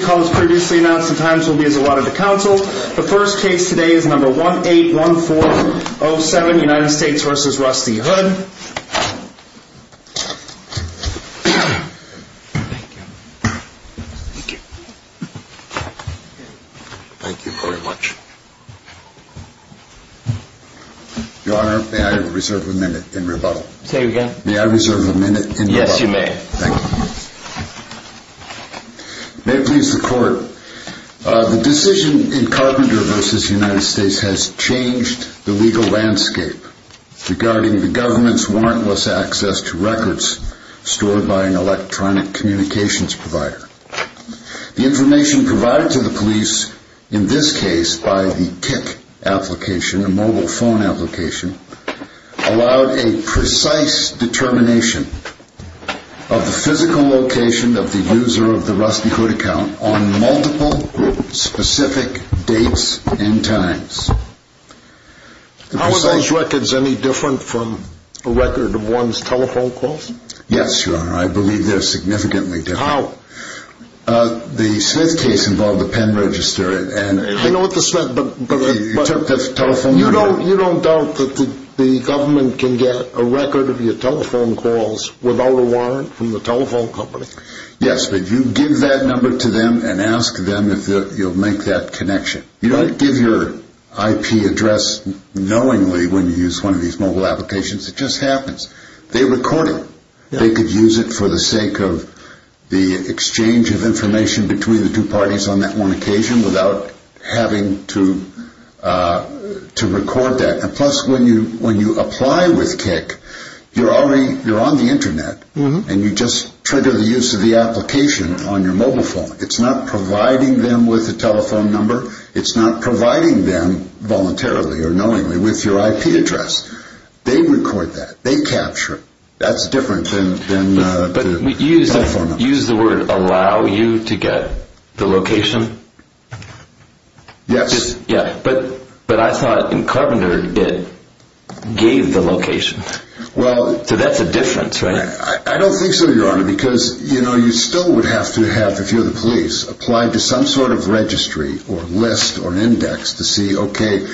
Thank you very much. Your honor, may I reserve a minute in rebuttal? Say again? May I reserve a minute in rebuttal? Yes you may. Thank you. May it please the court, the decision in Carpenter v. United States has changed the legal landscape regarding the government's warrantless access to records stored by an electronic communications provider. The information provided to the police, in this case by the location of the user of the Rusty Hood account on multiple specific dates and times. How are those records any different from a record of one's telephone calls? Yes, your honor, I believe they're significantly different. How? The Smith case involved a pen register and... I know what the Smith, but... You took the telephone... You don't doubt that the government can get a record of your telephone calls without a telephone company. Yes, but you give that number to them and ask them if you'll make that connection. You don't give your IP address knowingly when you use one of these mobile applications. It just happens. They record it. They could use it for the sake of the exchange of information between the two parties on that one occasion without having to record that. Plus, when you apply with KIC, you're on the Internet and you just trigger the use of the application on your mobile phone. It's not providing them with a telephone number. It's not providing them voluntarily or knowingly with your IP address. They record that. They capture it. That's different than... But you used the word, allow you to get the location? Yes. But I thought in Carpenter, it gave the location. So that's a difference, right? I don't think so, Your Honor, because you still would have to have, if you're the police, apply to some sort of registry or list or index to see, okay,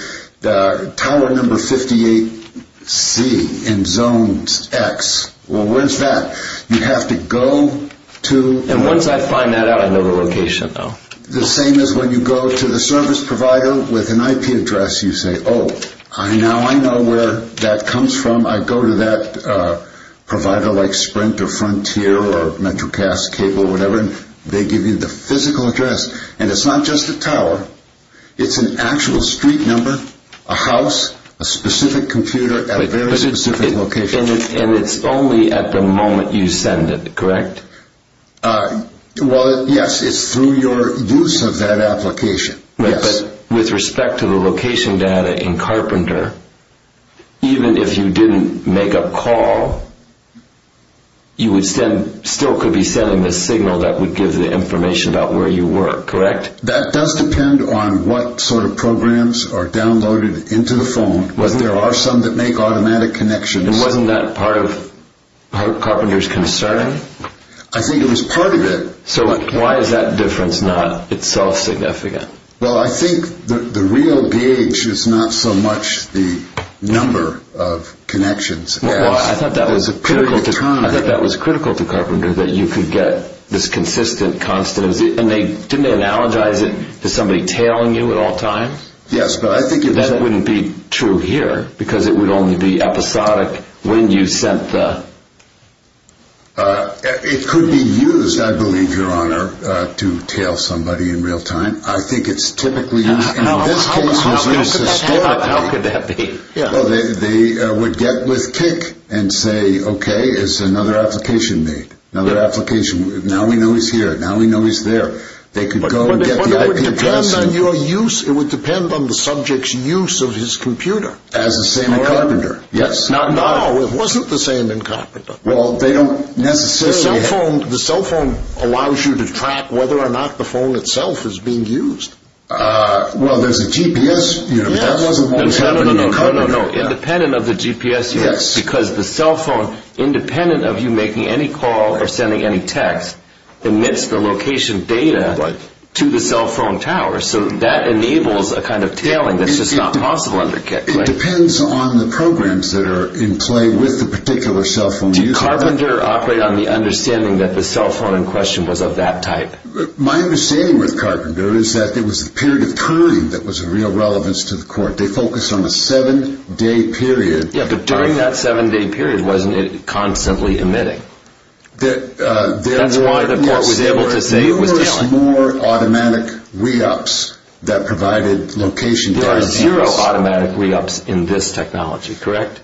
tower number 58C in zone X. Well, where's that? You have to go to... And once I find that out, I know the location, though. The same as when you go to the service provider with an IP address, you say, oh, now I know where that comes from. I go to that provider like Sprint or Frontier or MetroCast, Cable, whatever, and they give you the physical address. And it's not just a tower. It's an actual street number, a house, a specific computer at a very specific location. And it's only at the moment you send it, correct? Well, yes, it's through your use of that application. But with respect to the location data in Carpenter, even if you didn't make a call, you still could be sending the signal that would give the information about where you were, correct? That does depend on what sort of programs are downloaded into the phone. There are some that make automatic connections. And wasn't that part of Carpenter's concern? I think it was part of it. So why is that difference not itself significant? Well, I think the real gauge is not so much the number of connections. I thought that was critical to Carpenter, that you could get this consistent, constant. And didn't they analogize it to somebody tailing you at all times? Yes, but I think it was... Because it would only be episodic when you sent the... It could be used, I believe, Your Honor, to tail somebody in real time. I think it's typically used. How could that be? They would get with kick and say, okay, it's another application made, another application. Now we know he's here, now we know he's there. They could go and get the IP address. It depends on your use. It would depend on the subject's use of his computer. As the same in Carpenter. No, it wasn't the same in Carpenter. Well, they don't necessarily... The cell phone allows you to track whether or not the phone itself is being used. Well, there's a GPS unit. That wasn't what was happening in Carpenter. Independent of the GPS unit, because the cell phone, independent of you making any call or sending any text, emits the location data to the cell phone tower. So that enables a kind of tailing that's just not possible under kick. It depends on the programs that are in play with the particular cell phone user. Did Carpenter operate on the understanding that the cell phone in question was of that type? My understanding with Carpenter is that it was the period of turning that was of real relevance to the court. They focused on a seven-day period. Yeah, but during that seven-day period, wasn't it constantly emitting? That's why the court was able to say it was tailing. There were numerous more automatic re-ups that provided location data. There are zero automatic re-ups in this technology, correct?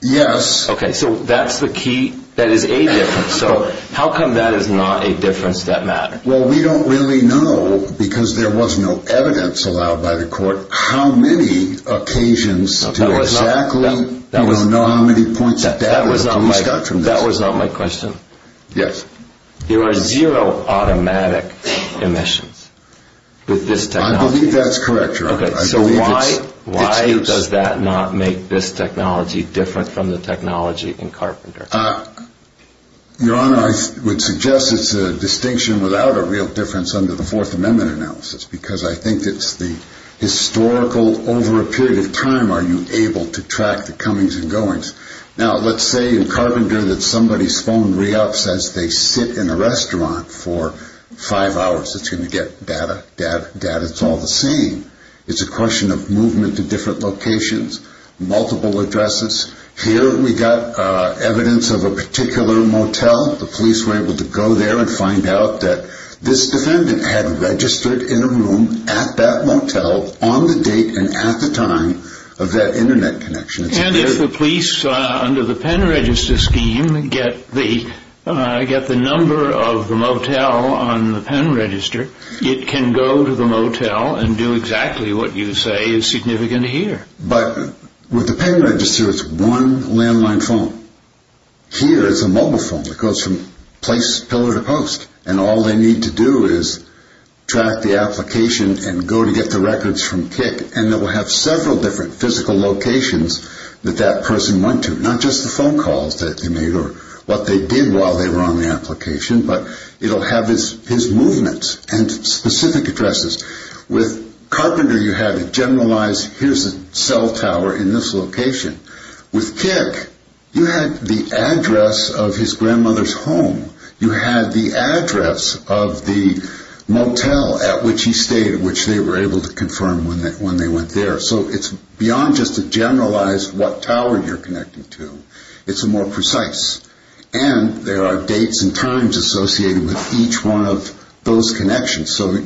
Yes. Okay, so that's the key. That is a difference. So how come that is not a difference that matters? Well, we don't really know, because there was no evidence allowed by the court, how many occasions to exactly... No, that was not... We don't know how many points of data to extract from this. That was not my question? Yes. There are zero automatic emissions with this technology? I believe that's correct, Your Honor. Okay, so why does that not make this technology different from the technology in Carpenter? Your Honor, I would suggest it's a distinction without a real difference under the Fourth Amendment analysis, because I think it's the historical, over a period of time, are you able to track the comings and goings? Now, let's say in Carpenter that somebody's phone re-ups as they sit in a restaurant for five hours. It's going to get data, data, data. It's all the same. It's a question of movement to different locations, multiple addresses. Here we got evidence of a particular motel. The police were able to go there and find out that this defendant had registered in a room at that motel, on the date and at the time of that Internet connection. And if the police, under the pen register scheme, get the number of the motel on the pen register, it can go to the motel and do exactly what you say is significant here. But with the pen register, it's one landline phone. Here, it's a mobile phone that goes from place, pillar to post, and all they need to do is track the application and go to get the records from KIC, and it will have several different physical locations that that person went to, not just the phone calls that they made or what they did while they were on the application, but it will have his movements and specific addresses. With Carpenter, you had a generalized, here's a cell tower in this location. With KIC, you had the address of his grandmother's home. You had the address of the motel at which he stayed, which they were able to confirm when they went there. So it's beyond just a generalized what tower you're connecting to. It's a more precise. And there are dates and times associated with each one of those connections. So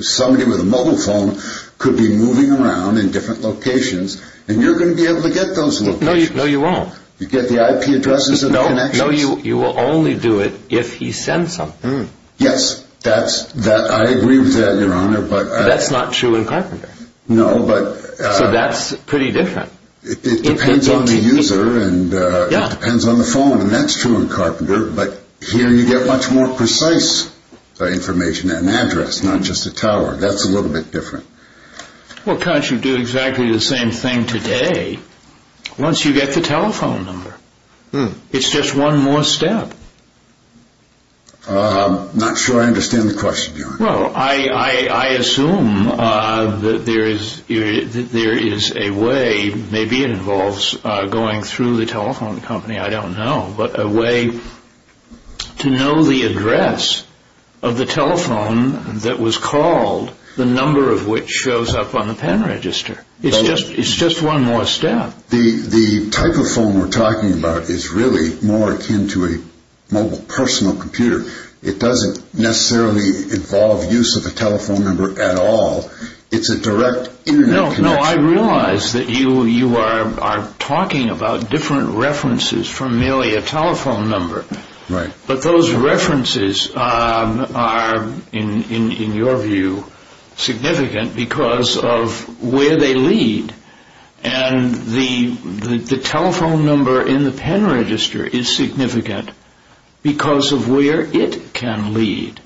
somebody with a mobile phone could be moving around in different locations, and you're going to be able to get those locations. No, you won't. You get the IP addresses of the connections? No, you will only do it if he sends something. Yes, I agree with that, Your Honor, but... That's not true in Carpenter. No, but... So that's pretty different. It depends on the user and it depends on the phone, and that's true in Carpenter, but here you get much more precise information and address, not just a tower. That's a little bit different. Well, can't you do exactly the same thing today once you get the telephone number? It's just one more step. I'm not sure I understand the question, Your Honor. Well, I assume that there is a way, maybe it involves going through the telephone company, I don't know, but a way to know the address of the telephone that was called, the number of which shows up on the pen register. It's just one more step. The type of phone we're talking about is really more akin to a mobile personal computer. It doesn't necessarily involve use of a telephone number at all. It's a direct Internet connection. No, I realize that you are talking about different references from merely a telephone number, but those references are, in your view, significant because of where they lead and the telephone number in the pen register is significant because of where it can lead,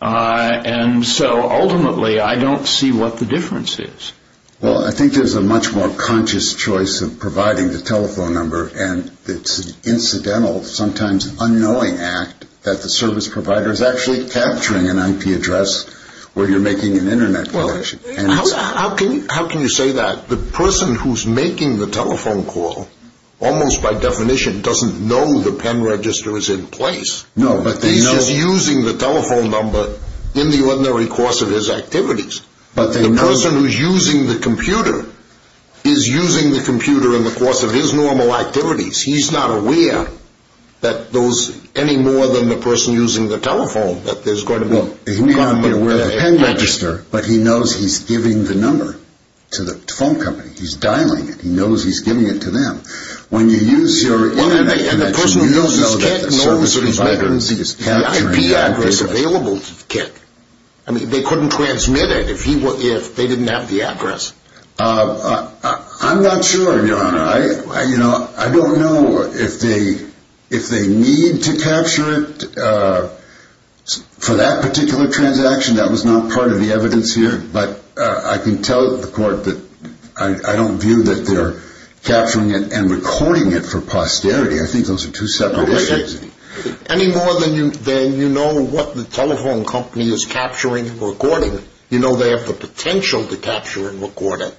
and so ultimately I don't see what the difference is. Well, I think there's a much more conscious choice of providing the telephone number and it's an incidental, sometimes unknowing act that the service provider is actually capturing an IP address where you're making an Internet connection. How can you say that? The person who's making the telephone call almost by definition doesn't know the pen register is in place. No, but they know. He's just using the telephone number in the ordinary course of his activities. But they know. The person who's using the computer is using the computer in the course of his normal activities. He's not aware that those, any more than the person using the telephone, that there's going to be. He may not be aware of the pen register, but he knows he's giving the number to the phone company. He's dialing it. He knows he's giving it to them. When you use your Internet connection, you don't know that the service provider is capturing the address. The IP address available to the kid. I mean, they couldn't transmit it if they didn't have the address. I'm not sure, Your Honor. I don't know if they need to capture it for that particular transaction. That was not part of the evidence here. But I can tell the court that I don't view that they're capturing it and recording it for posterity. I think those are two separate issues. Any more than you know what the telephone company is capturing and recording, you know they have the potential to capture and record it,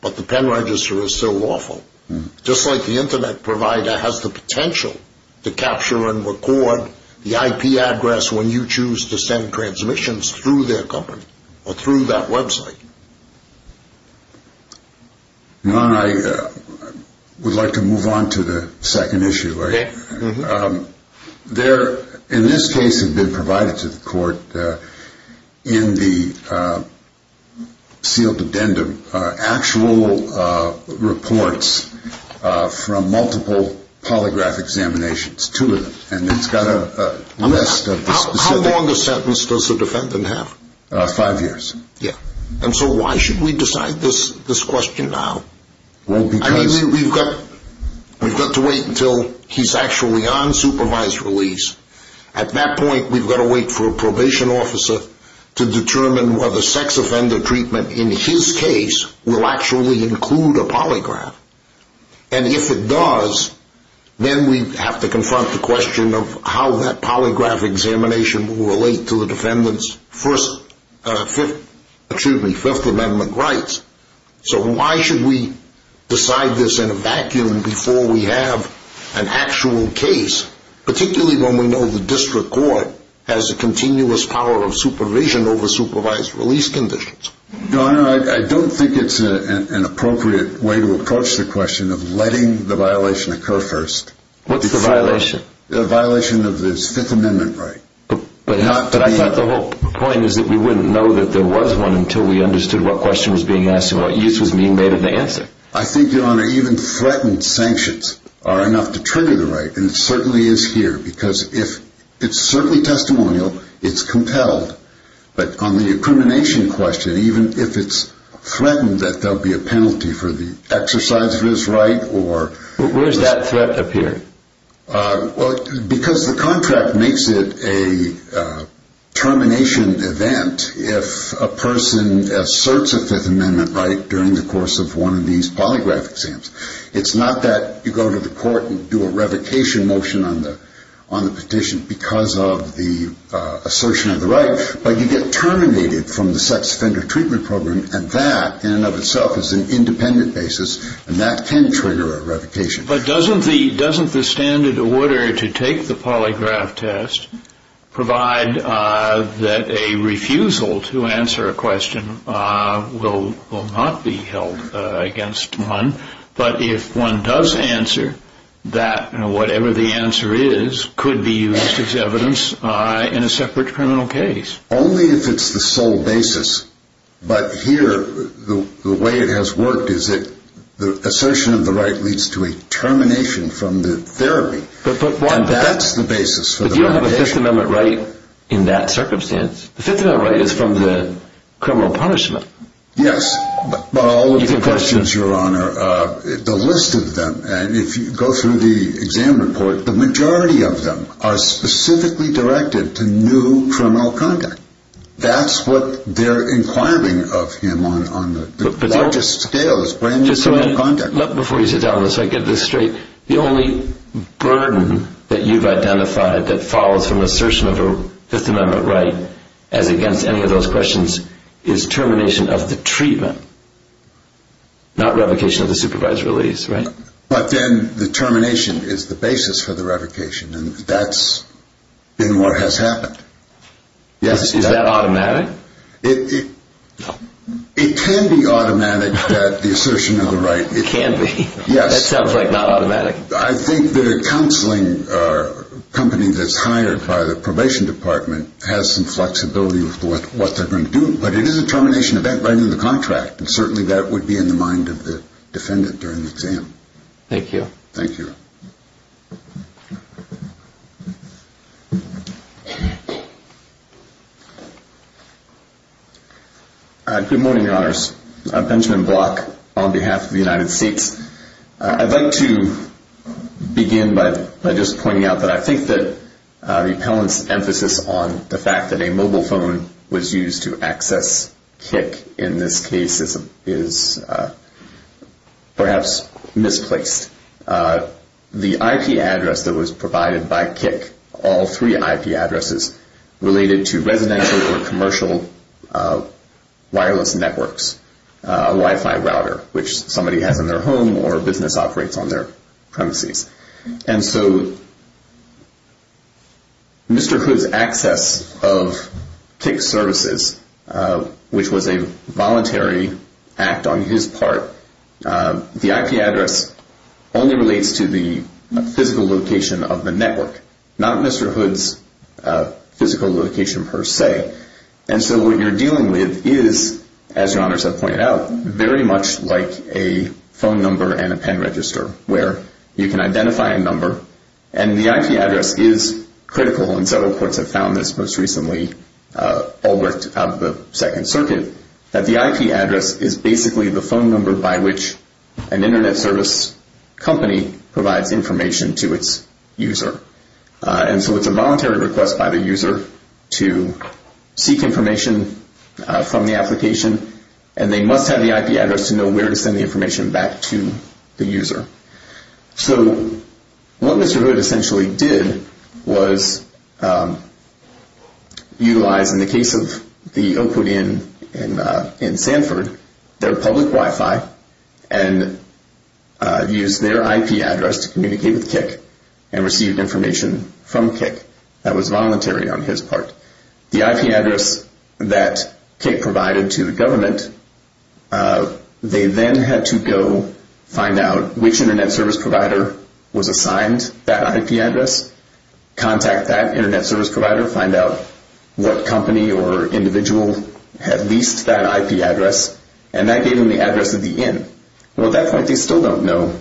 but the pen register is still lawful. Just like the Internet provider has the potential to capture and record the IP address when you choose to send transmissions through their company or through that website. Your Honor, I would like to move on to the second issue. Okay. In this case, it had been provided to the court in the sealed addendum, actual reports from multiple polygraph examinations, two of them. And it's got a list of the specifics. How long a sentence does the defendant have? Five years. Yeah. And so why should we decide this question now? We've got to wait until he's actually on supervised release. At that point, we've got to wait for a probation officer to determine whether sex offender treatment in his case will actually include a polygraph. And if it does, then we have to confront the question of how that polygraph examination will relate to the defendant's Fifth Amendment rights. So why should we decide this in a vacuum before we have an actual case, particularly when we know the district court has a continuous power of supervision over supervised release conditions? Your Honor, I don't think it's an appropriate way to approach the question of letting the violation occur first. What's the violation? The violation of his Fifth Amendment right. But I thought the whole point is that we wouldn't know that there was one until we understood what question was being asked and what use was being made of the answer. I think, Your Honor, even threatened sanctions are enough to trigger the right, and it certainly is here, because if it's certainly testimonial, it's compelled. But on the incrimination question, even if it's threatened that there will be a penalty for the exercise of his right or— Where does that threat appear? Because the contract makes it a termination event if a person asserts a Fifth Amendment right during the course of one of these polygraph exams. It's not that you go to the court and do a revocation motion on the petition because of the assertion of the right, but you get terminated from the sex offender treatment program, and that, in and of itself, is an independent basis, and that can trigger a revocation. But doesn't the standard order to take the polygraph test provide that a refusal to answer a question will not be held against one, but if one does answer, that whatever the answer is could be used as evidence in a separate criminal case? Only if it's the sole basis, but here, the way it has worked is that the assertion of the right leads to a termination from the therapy, and that's the basis for the revocation. But you don't have a Fifth Amendment right in that circumstance. The Fifth Amendment right is from the criminal punishment. Yes, but all of the questions, Your Honor, the list of them, and if you go through the exam report, the majority of them are specifically directed to new criminal conduct. That's what they're inquiring of him on the largest scale is brand-new criminal conduct. Before you sit down, let me get this straight. The only burden that you've identified that follows from an assertion of a Fifth Amendment right, as against any of those questions, is termination of the treatment, not revocation of the supervised release, right? But then the termination is the basis for the revocation, and that's been what has happened. Is that automatic? It can be automatic, that the assertion of the right. It can be? Yes. That sounds like not automatic. I think that a counseling company that's hired by the probation department has some flexibility with what they're going to do, but it is a termination event right in the contract, and certainly that would be in the mind of the defendant during the exam. Thank you. Thank you. Good morning, Your Honors. I'm Benjamin Block on behalf of the United States. I'd like to begin by just pointing out that I think that the appellant's emphasis on the fact that a mobile phone was used to access Kik, in this case, is perhaps misplaced. The IP address that was provided by Kik, all three IP addresses, related to residential or commercial wireless networks, a Wi-Fi router, which somebody has in their home or a business operates on their premises. And so Mr. Hood's access of Kik services, which was a voluntary act on his part, the IP address only relates to the physical location of the network, not Mr. Hood's physical location per se. And so what you're dealing with is, as Your Honors have pointed out, very much like a phone number and a pen register, where you can identify a number, and the IP address is critical, and several courts have found this most recently, all worked out of the Second Circuit, that the IP address is basically the phone number by which an Internet service company provides information to its user. And so it's a voluntary request by the user to seek information from the application, and they must have the IP address to know where to send the information back to the user. So what Mr. Hood essentially did was utilize, in the case of the Oakwood Inn in Sanford, their public Wi-Fi and use their IP address to communicate with Kik and receive information from Kik. That was voluntary on his part. The IP address that Kik provided to the government, they then had to go find out which Internet service provider was assigned that IP address, contact that Internet service provider, find out what company or individual had leased that IP address, and that gave them the address of the Inn. Well, at that point, they still don't know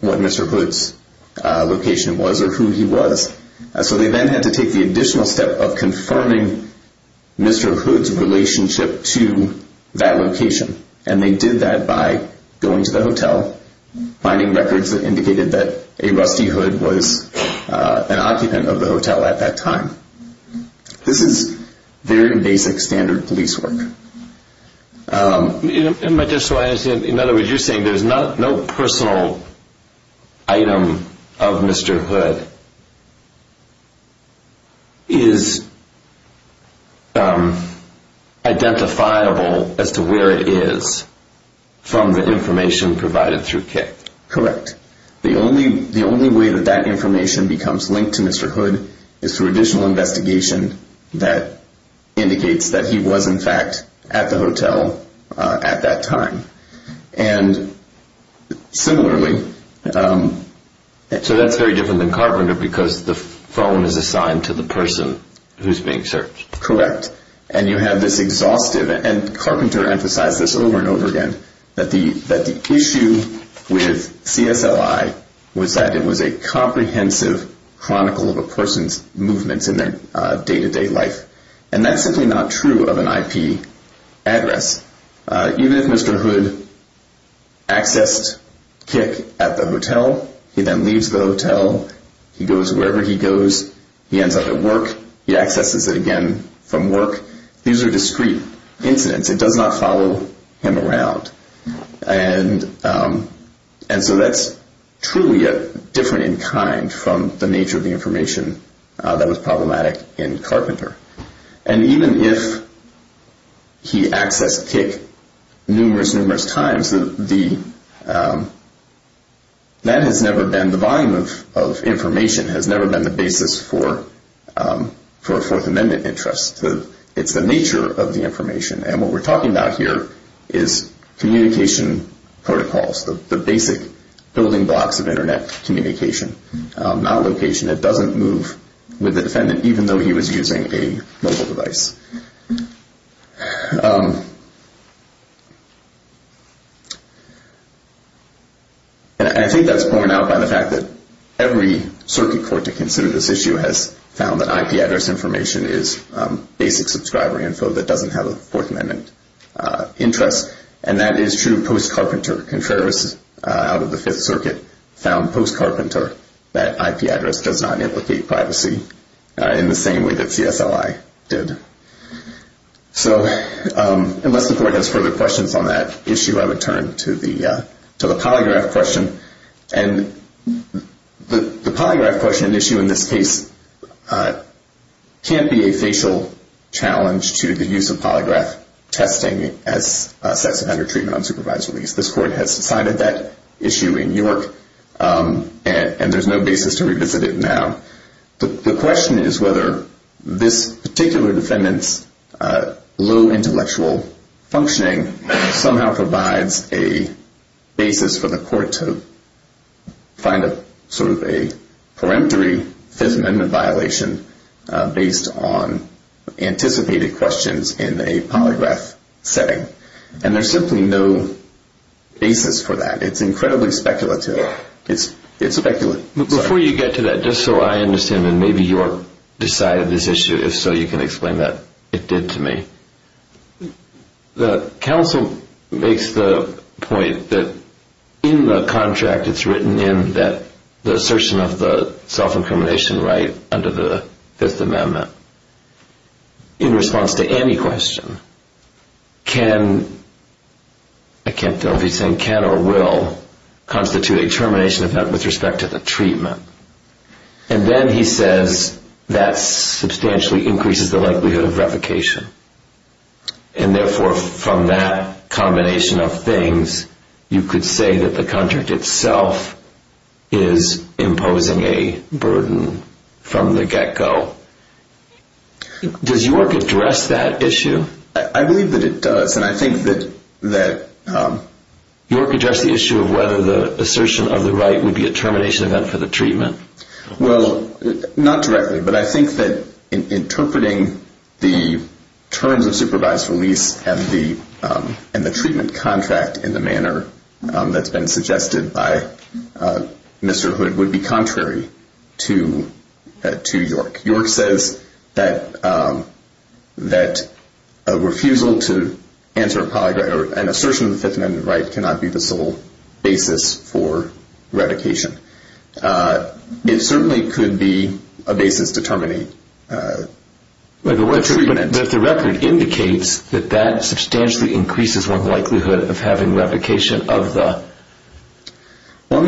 what Mr. Hood's location was or who he was. So they then had to take the additional step of confirming Mr. Hood's relationship to that location, and they did that by going to the hotel, finding records that indicated that a Rusty Hood was an occupant of the hotel at that time. This is very basic standard police work. In other words, you're saying there's no personal item of Mr. Hood that is identifiable as to where it is from the information provided through Kik. Correct. The only way that that information becomes linked to Mr. Hood is through additional investigation that indicates that he was, in fact, at the hotel at that time. And similarly... So that's very different than Carpenter because the phone is assigned to the person who's being searched. Correct. And you have this exhaustive, and Carpenter emphasized this over and over again, that the issue with CSLI was that it was a comprehensive chronicle of a person's movements in their day-to-day life. And that's simply not true of an IP address. Even if Mr. Hood accessed Kik at the hotel, he then leaves the hotel, he goes wherever he goes, he ends up at work, he accesses it again from work, these are discrete incidents. It does not follow him around. And so that's truly different in kind from the nature of the information that was problematic in Carpenter. And even if he accessed Kik numerous, numerous times, that has never been the volume of information, has never been the basis for a Fourth Amendment interest. It's the nature of the information. And what we're talking about here is communication protocols, the basic building blocks of Internet communication, not location. It doesn't move with the defendant even though he was using a mobile device. And I think that's borne out by the fact that every circuit court to consider this issue has found that IP address information is basic subscriber info that doesn't have a Fourth Amendment interest. And that is true post-Carpenter. Conservatives out of the Fifth Circuit found post-Carpenter that IP address does not implicate privacy in the same way that CSLI did. So unless the court has further questions on that issue, I would turn to the polygraph question. And the polygraph question issue in this case can't be a facial challenge to the use of polygraph testing as sets of under-treatment unsupervised release. This court has decided that issue in York, and there's no basis to revisit it now. The question is whether this particular defendant's low intellectual functioning somehow provides a basis for the court to find a sort of a peremptory Fifth Amendment violation based on anticipated questions in a polygraph setting. And there's simply no basis for that. It's incredibly speculative. It's speculative. Before you get to that, just so I understand, and maybe York decided this issue, if so, you can explain that it did to me. The counsel makes the point that in the contract it's written in that the assertion of the self-incrimination right under the Fifth Amendment, in response to any question, can, I can't tell if he's saying can or will, constitute a termination event with respect to the treatment. And then he says that substantially increases the likelihood of revocation. And, therefore, from that combination of things, you could say that the contract itself is imposing a burden from the get-go. Does York address that issue? I believe that it does, and I think that that... York addressed the issue of whether the assertion of the right would be a termination event for the treatment. Well, not directly, but I think that interpreting the terms of supervised release and the treatment contract in the manner that's been suggested by Mr. Hood would be contrary to York. York says that a refusal to answer a polygraph or an assertion of the Fifth Amendment right cannot be the sole basis for revocation. It certainly could be a basis to terminate treatment. But if the record indicates that that substantially increases one's likelihood of having revocation of the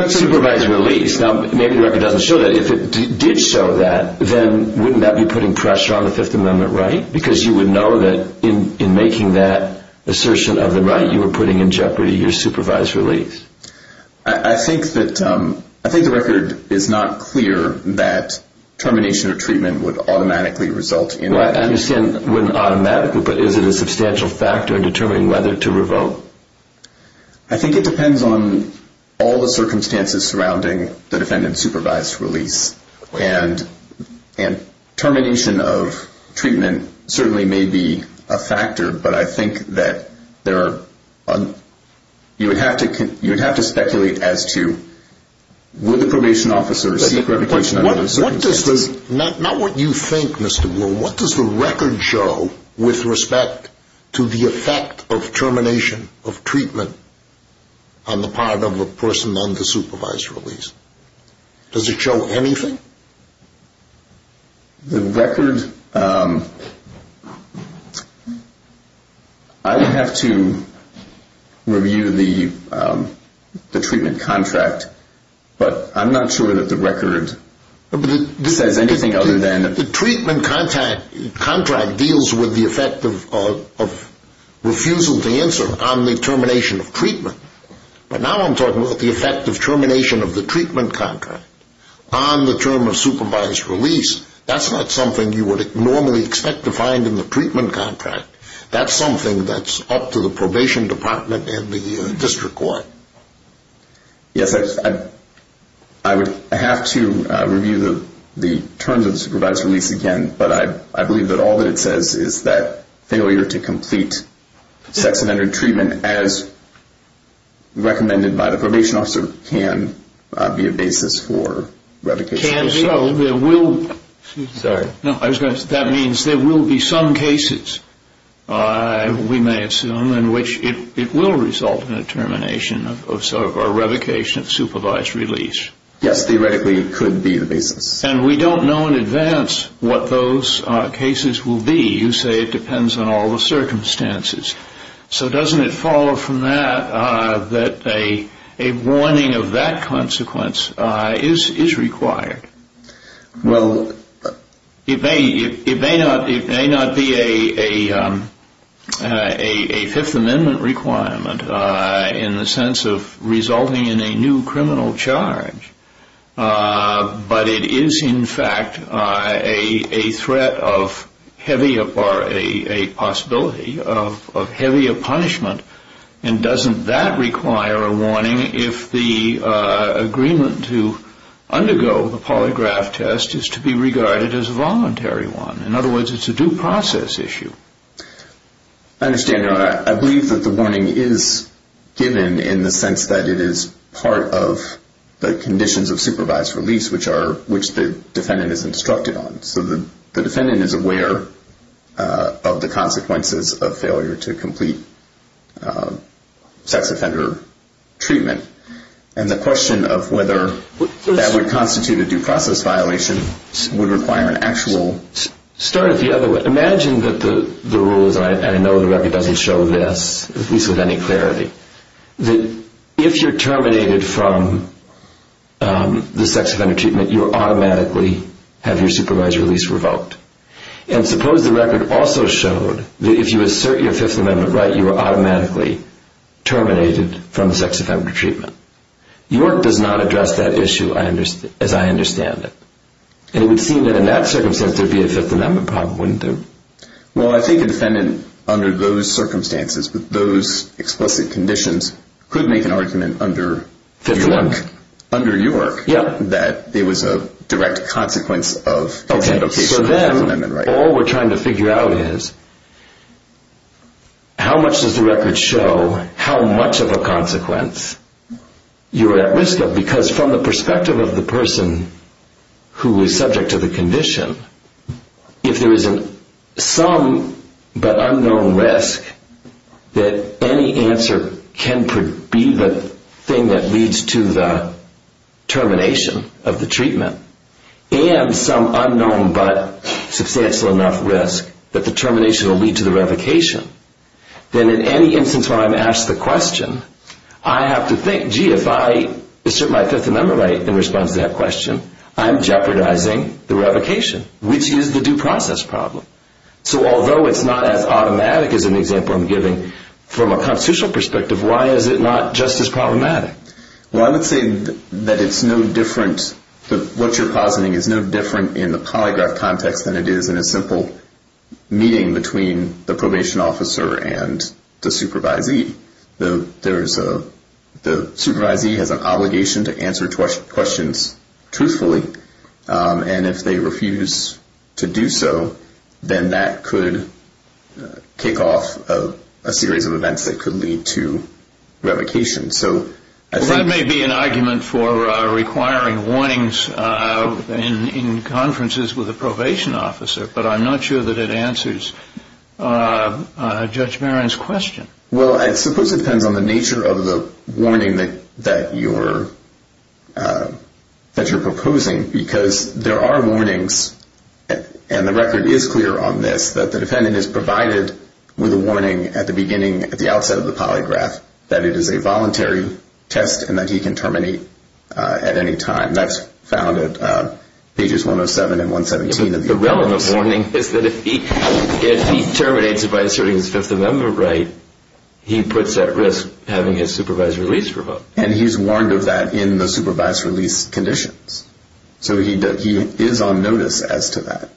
supervised release, now, maybe the record doesn't show that. If it did show that, then wouldn't that be putting pressure on the Fifth Amendment right? Because you would know that in making that assertion of the right you were putting in jeopardy your supervised release. I think the record is not clear that termination of treatment would automatically result in... Well, I understand it wouldn't automatically, but is it a substantial factor in determining whether to revoke? I think it depends on all the circumstances surrounding the defendant's supervised release. And termination of treatment certainly may be a factor, but I think that you would have to speculate as to, would the probation officer receive revocation under those circumstances? Not what you think, Mr. Moore. What does the record show with respect to the effect of termination of treatment on the part of a person on the supervised release? Does it show anything? The record, I would have to review the treatment contract, but I'm not sure that the record says anything other than... The treatment contract deals with the effect of refusal to answer on the termination of treatment. But now I'm talking about the effect of termination of the treatment contract on the term of supervised release. That's not something you would normally expect to find in the treatment contract. That's something that's up to the probation department and the district court. Yes, I would have to review the terms of the supervised release again, but I believe that all that it says is that failure to complete sex offender treatment as recommended by the probation officer can be a basis for revocation. Can, so there will... Sorry. No, I was going to say that means there will be some cases, we may assume, in which it will result in a termination or revocation of supervised release. Yes, theoretically it could be the basis. And we don't know in advance what those cases will be. You say it depends on all the circumstances. So doesn't it follow from that that a warning of that consequence is required? Well... It may not be a Fifth Amendment requirement in the sense of resulting in a new criminal charge, but it is, in fact, a threat of heavier, or a possibility of heavier punishment. And doesn't that require a warning if the agreement to undergo the polygraph test is to be regarded as a voluntary one? In other words, it's a due process issue. I understand that. I believe that the warning is given in the sense that it is part of the conditions of supervised release, which the defendant is instructed on. So the defendant is aware of the consequences of failure to complete sex offender treatment. And the question of whether that would constitute a due process violation would require an actual... Start it the other way. But imagine that the rule is, and I know the record doesn't show this, at least with any clarity, that if you're terminated from the sex offender treatment, you automatically have your supervised release revoked. And suppose the record also showed that if you assert your Fifth Amendment right, you are automatically terminated from the sex offender treatment. York does not address that issue as I understand it. And it would seem that in that circumstance there would be a Fifth Amendment problem, wouldn't there? Well, I think a defendant under those circumstances, with those explicit conditions, could make an argument under... Fifth Amendment. Under York. Yeah. That it was a direct consequence of... Okay. So then all we're trying to figure out is how much does the record show how much of a consequence you are at risk of? Because from the perspective of the person who is subject to the condition, if there is some but unknown risk that any answer can be the thing that leads to the termination of the treatment, and some unknown but substantial enough risk that the termination will lead to the revocation, then in any instance when I'm asked the question, I have to think, gee, if I assert my Fifth Amendment right in response to that question, I'm jeopardizing the revocation, which is the due process problem. So although it's not as automatic as an example I'm giving, from a constitutional perspective, why is it not just as problematic? Well, I would say that it's no different... that what you're positing is no different in the polygraph context than it is in a simple meeting between the probation officer and the supervisee. The supervisee has an obligation to answer questions truthfully, and if they refuse to do so, then that could kick off a series of events that could lead to revocation. So I think... Well, that may be an argument for requiring warnings in conferences with a probation officer, but I'm not sure that it answers Judge Barron's question. Well, I suppose it depends on the nature of the warning that you're proposing, because there are warnings, and the record is clear on this, that the defendant is provided with a warning at the beginning, at the outset of the polygraph, that it is a voluntary test, and that he can terminate at any time. That's found at pages 107 and 117 of your notice. The relevant warning is that if he terminates it by asserting his Fifth Amendment right, he puts at risk having his supervised release revoked. And he's warned of that in the supervised release conditions. So he is on notice as to that.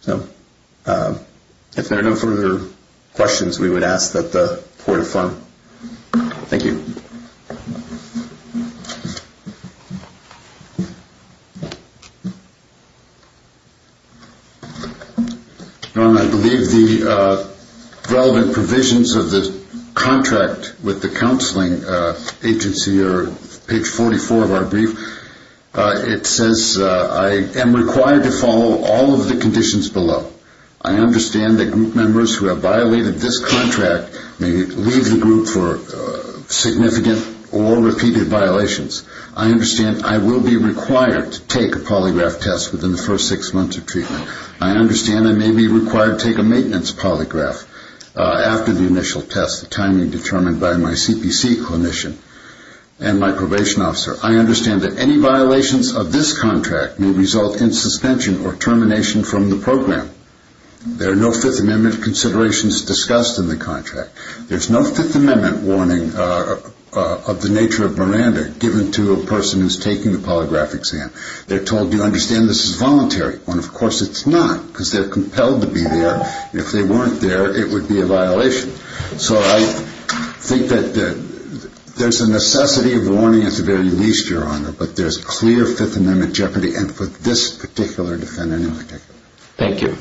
So if there are no further questions, we would ask that the Court affirm. Thank you. Your Honor, I believe the relevant provisions of the contract with the counseling agency are page 44 of our brief. It says, I am required to follow all of the conditions below. I understand that group members who have violated this contract may leave the group for significant or repeated violations. I understand I will be required to take a polygraph test within the first six months of treatment. I understand I may be required to take a maintenance polygraph after the initial test, the timing determined by my CPC clinician and my probation officer. I understand that any violations of this contract may result in suspension or termination from the program. There are no Fifth Amendment considerations discussed in the contract. There's no Fifth Amendment warning of the nature of Miranda given to a person who's taking the polygraph exam. They're told, do you understand this is voluntary? When, of course, it's not because they're compelled to be there. So I think that there's a necessity of warning at the very least, Your Honor, but there's clear Fifth Amendment jeopardy and for this particular defendant in particular. Thank you.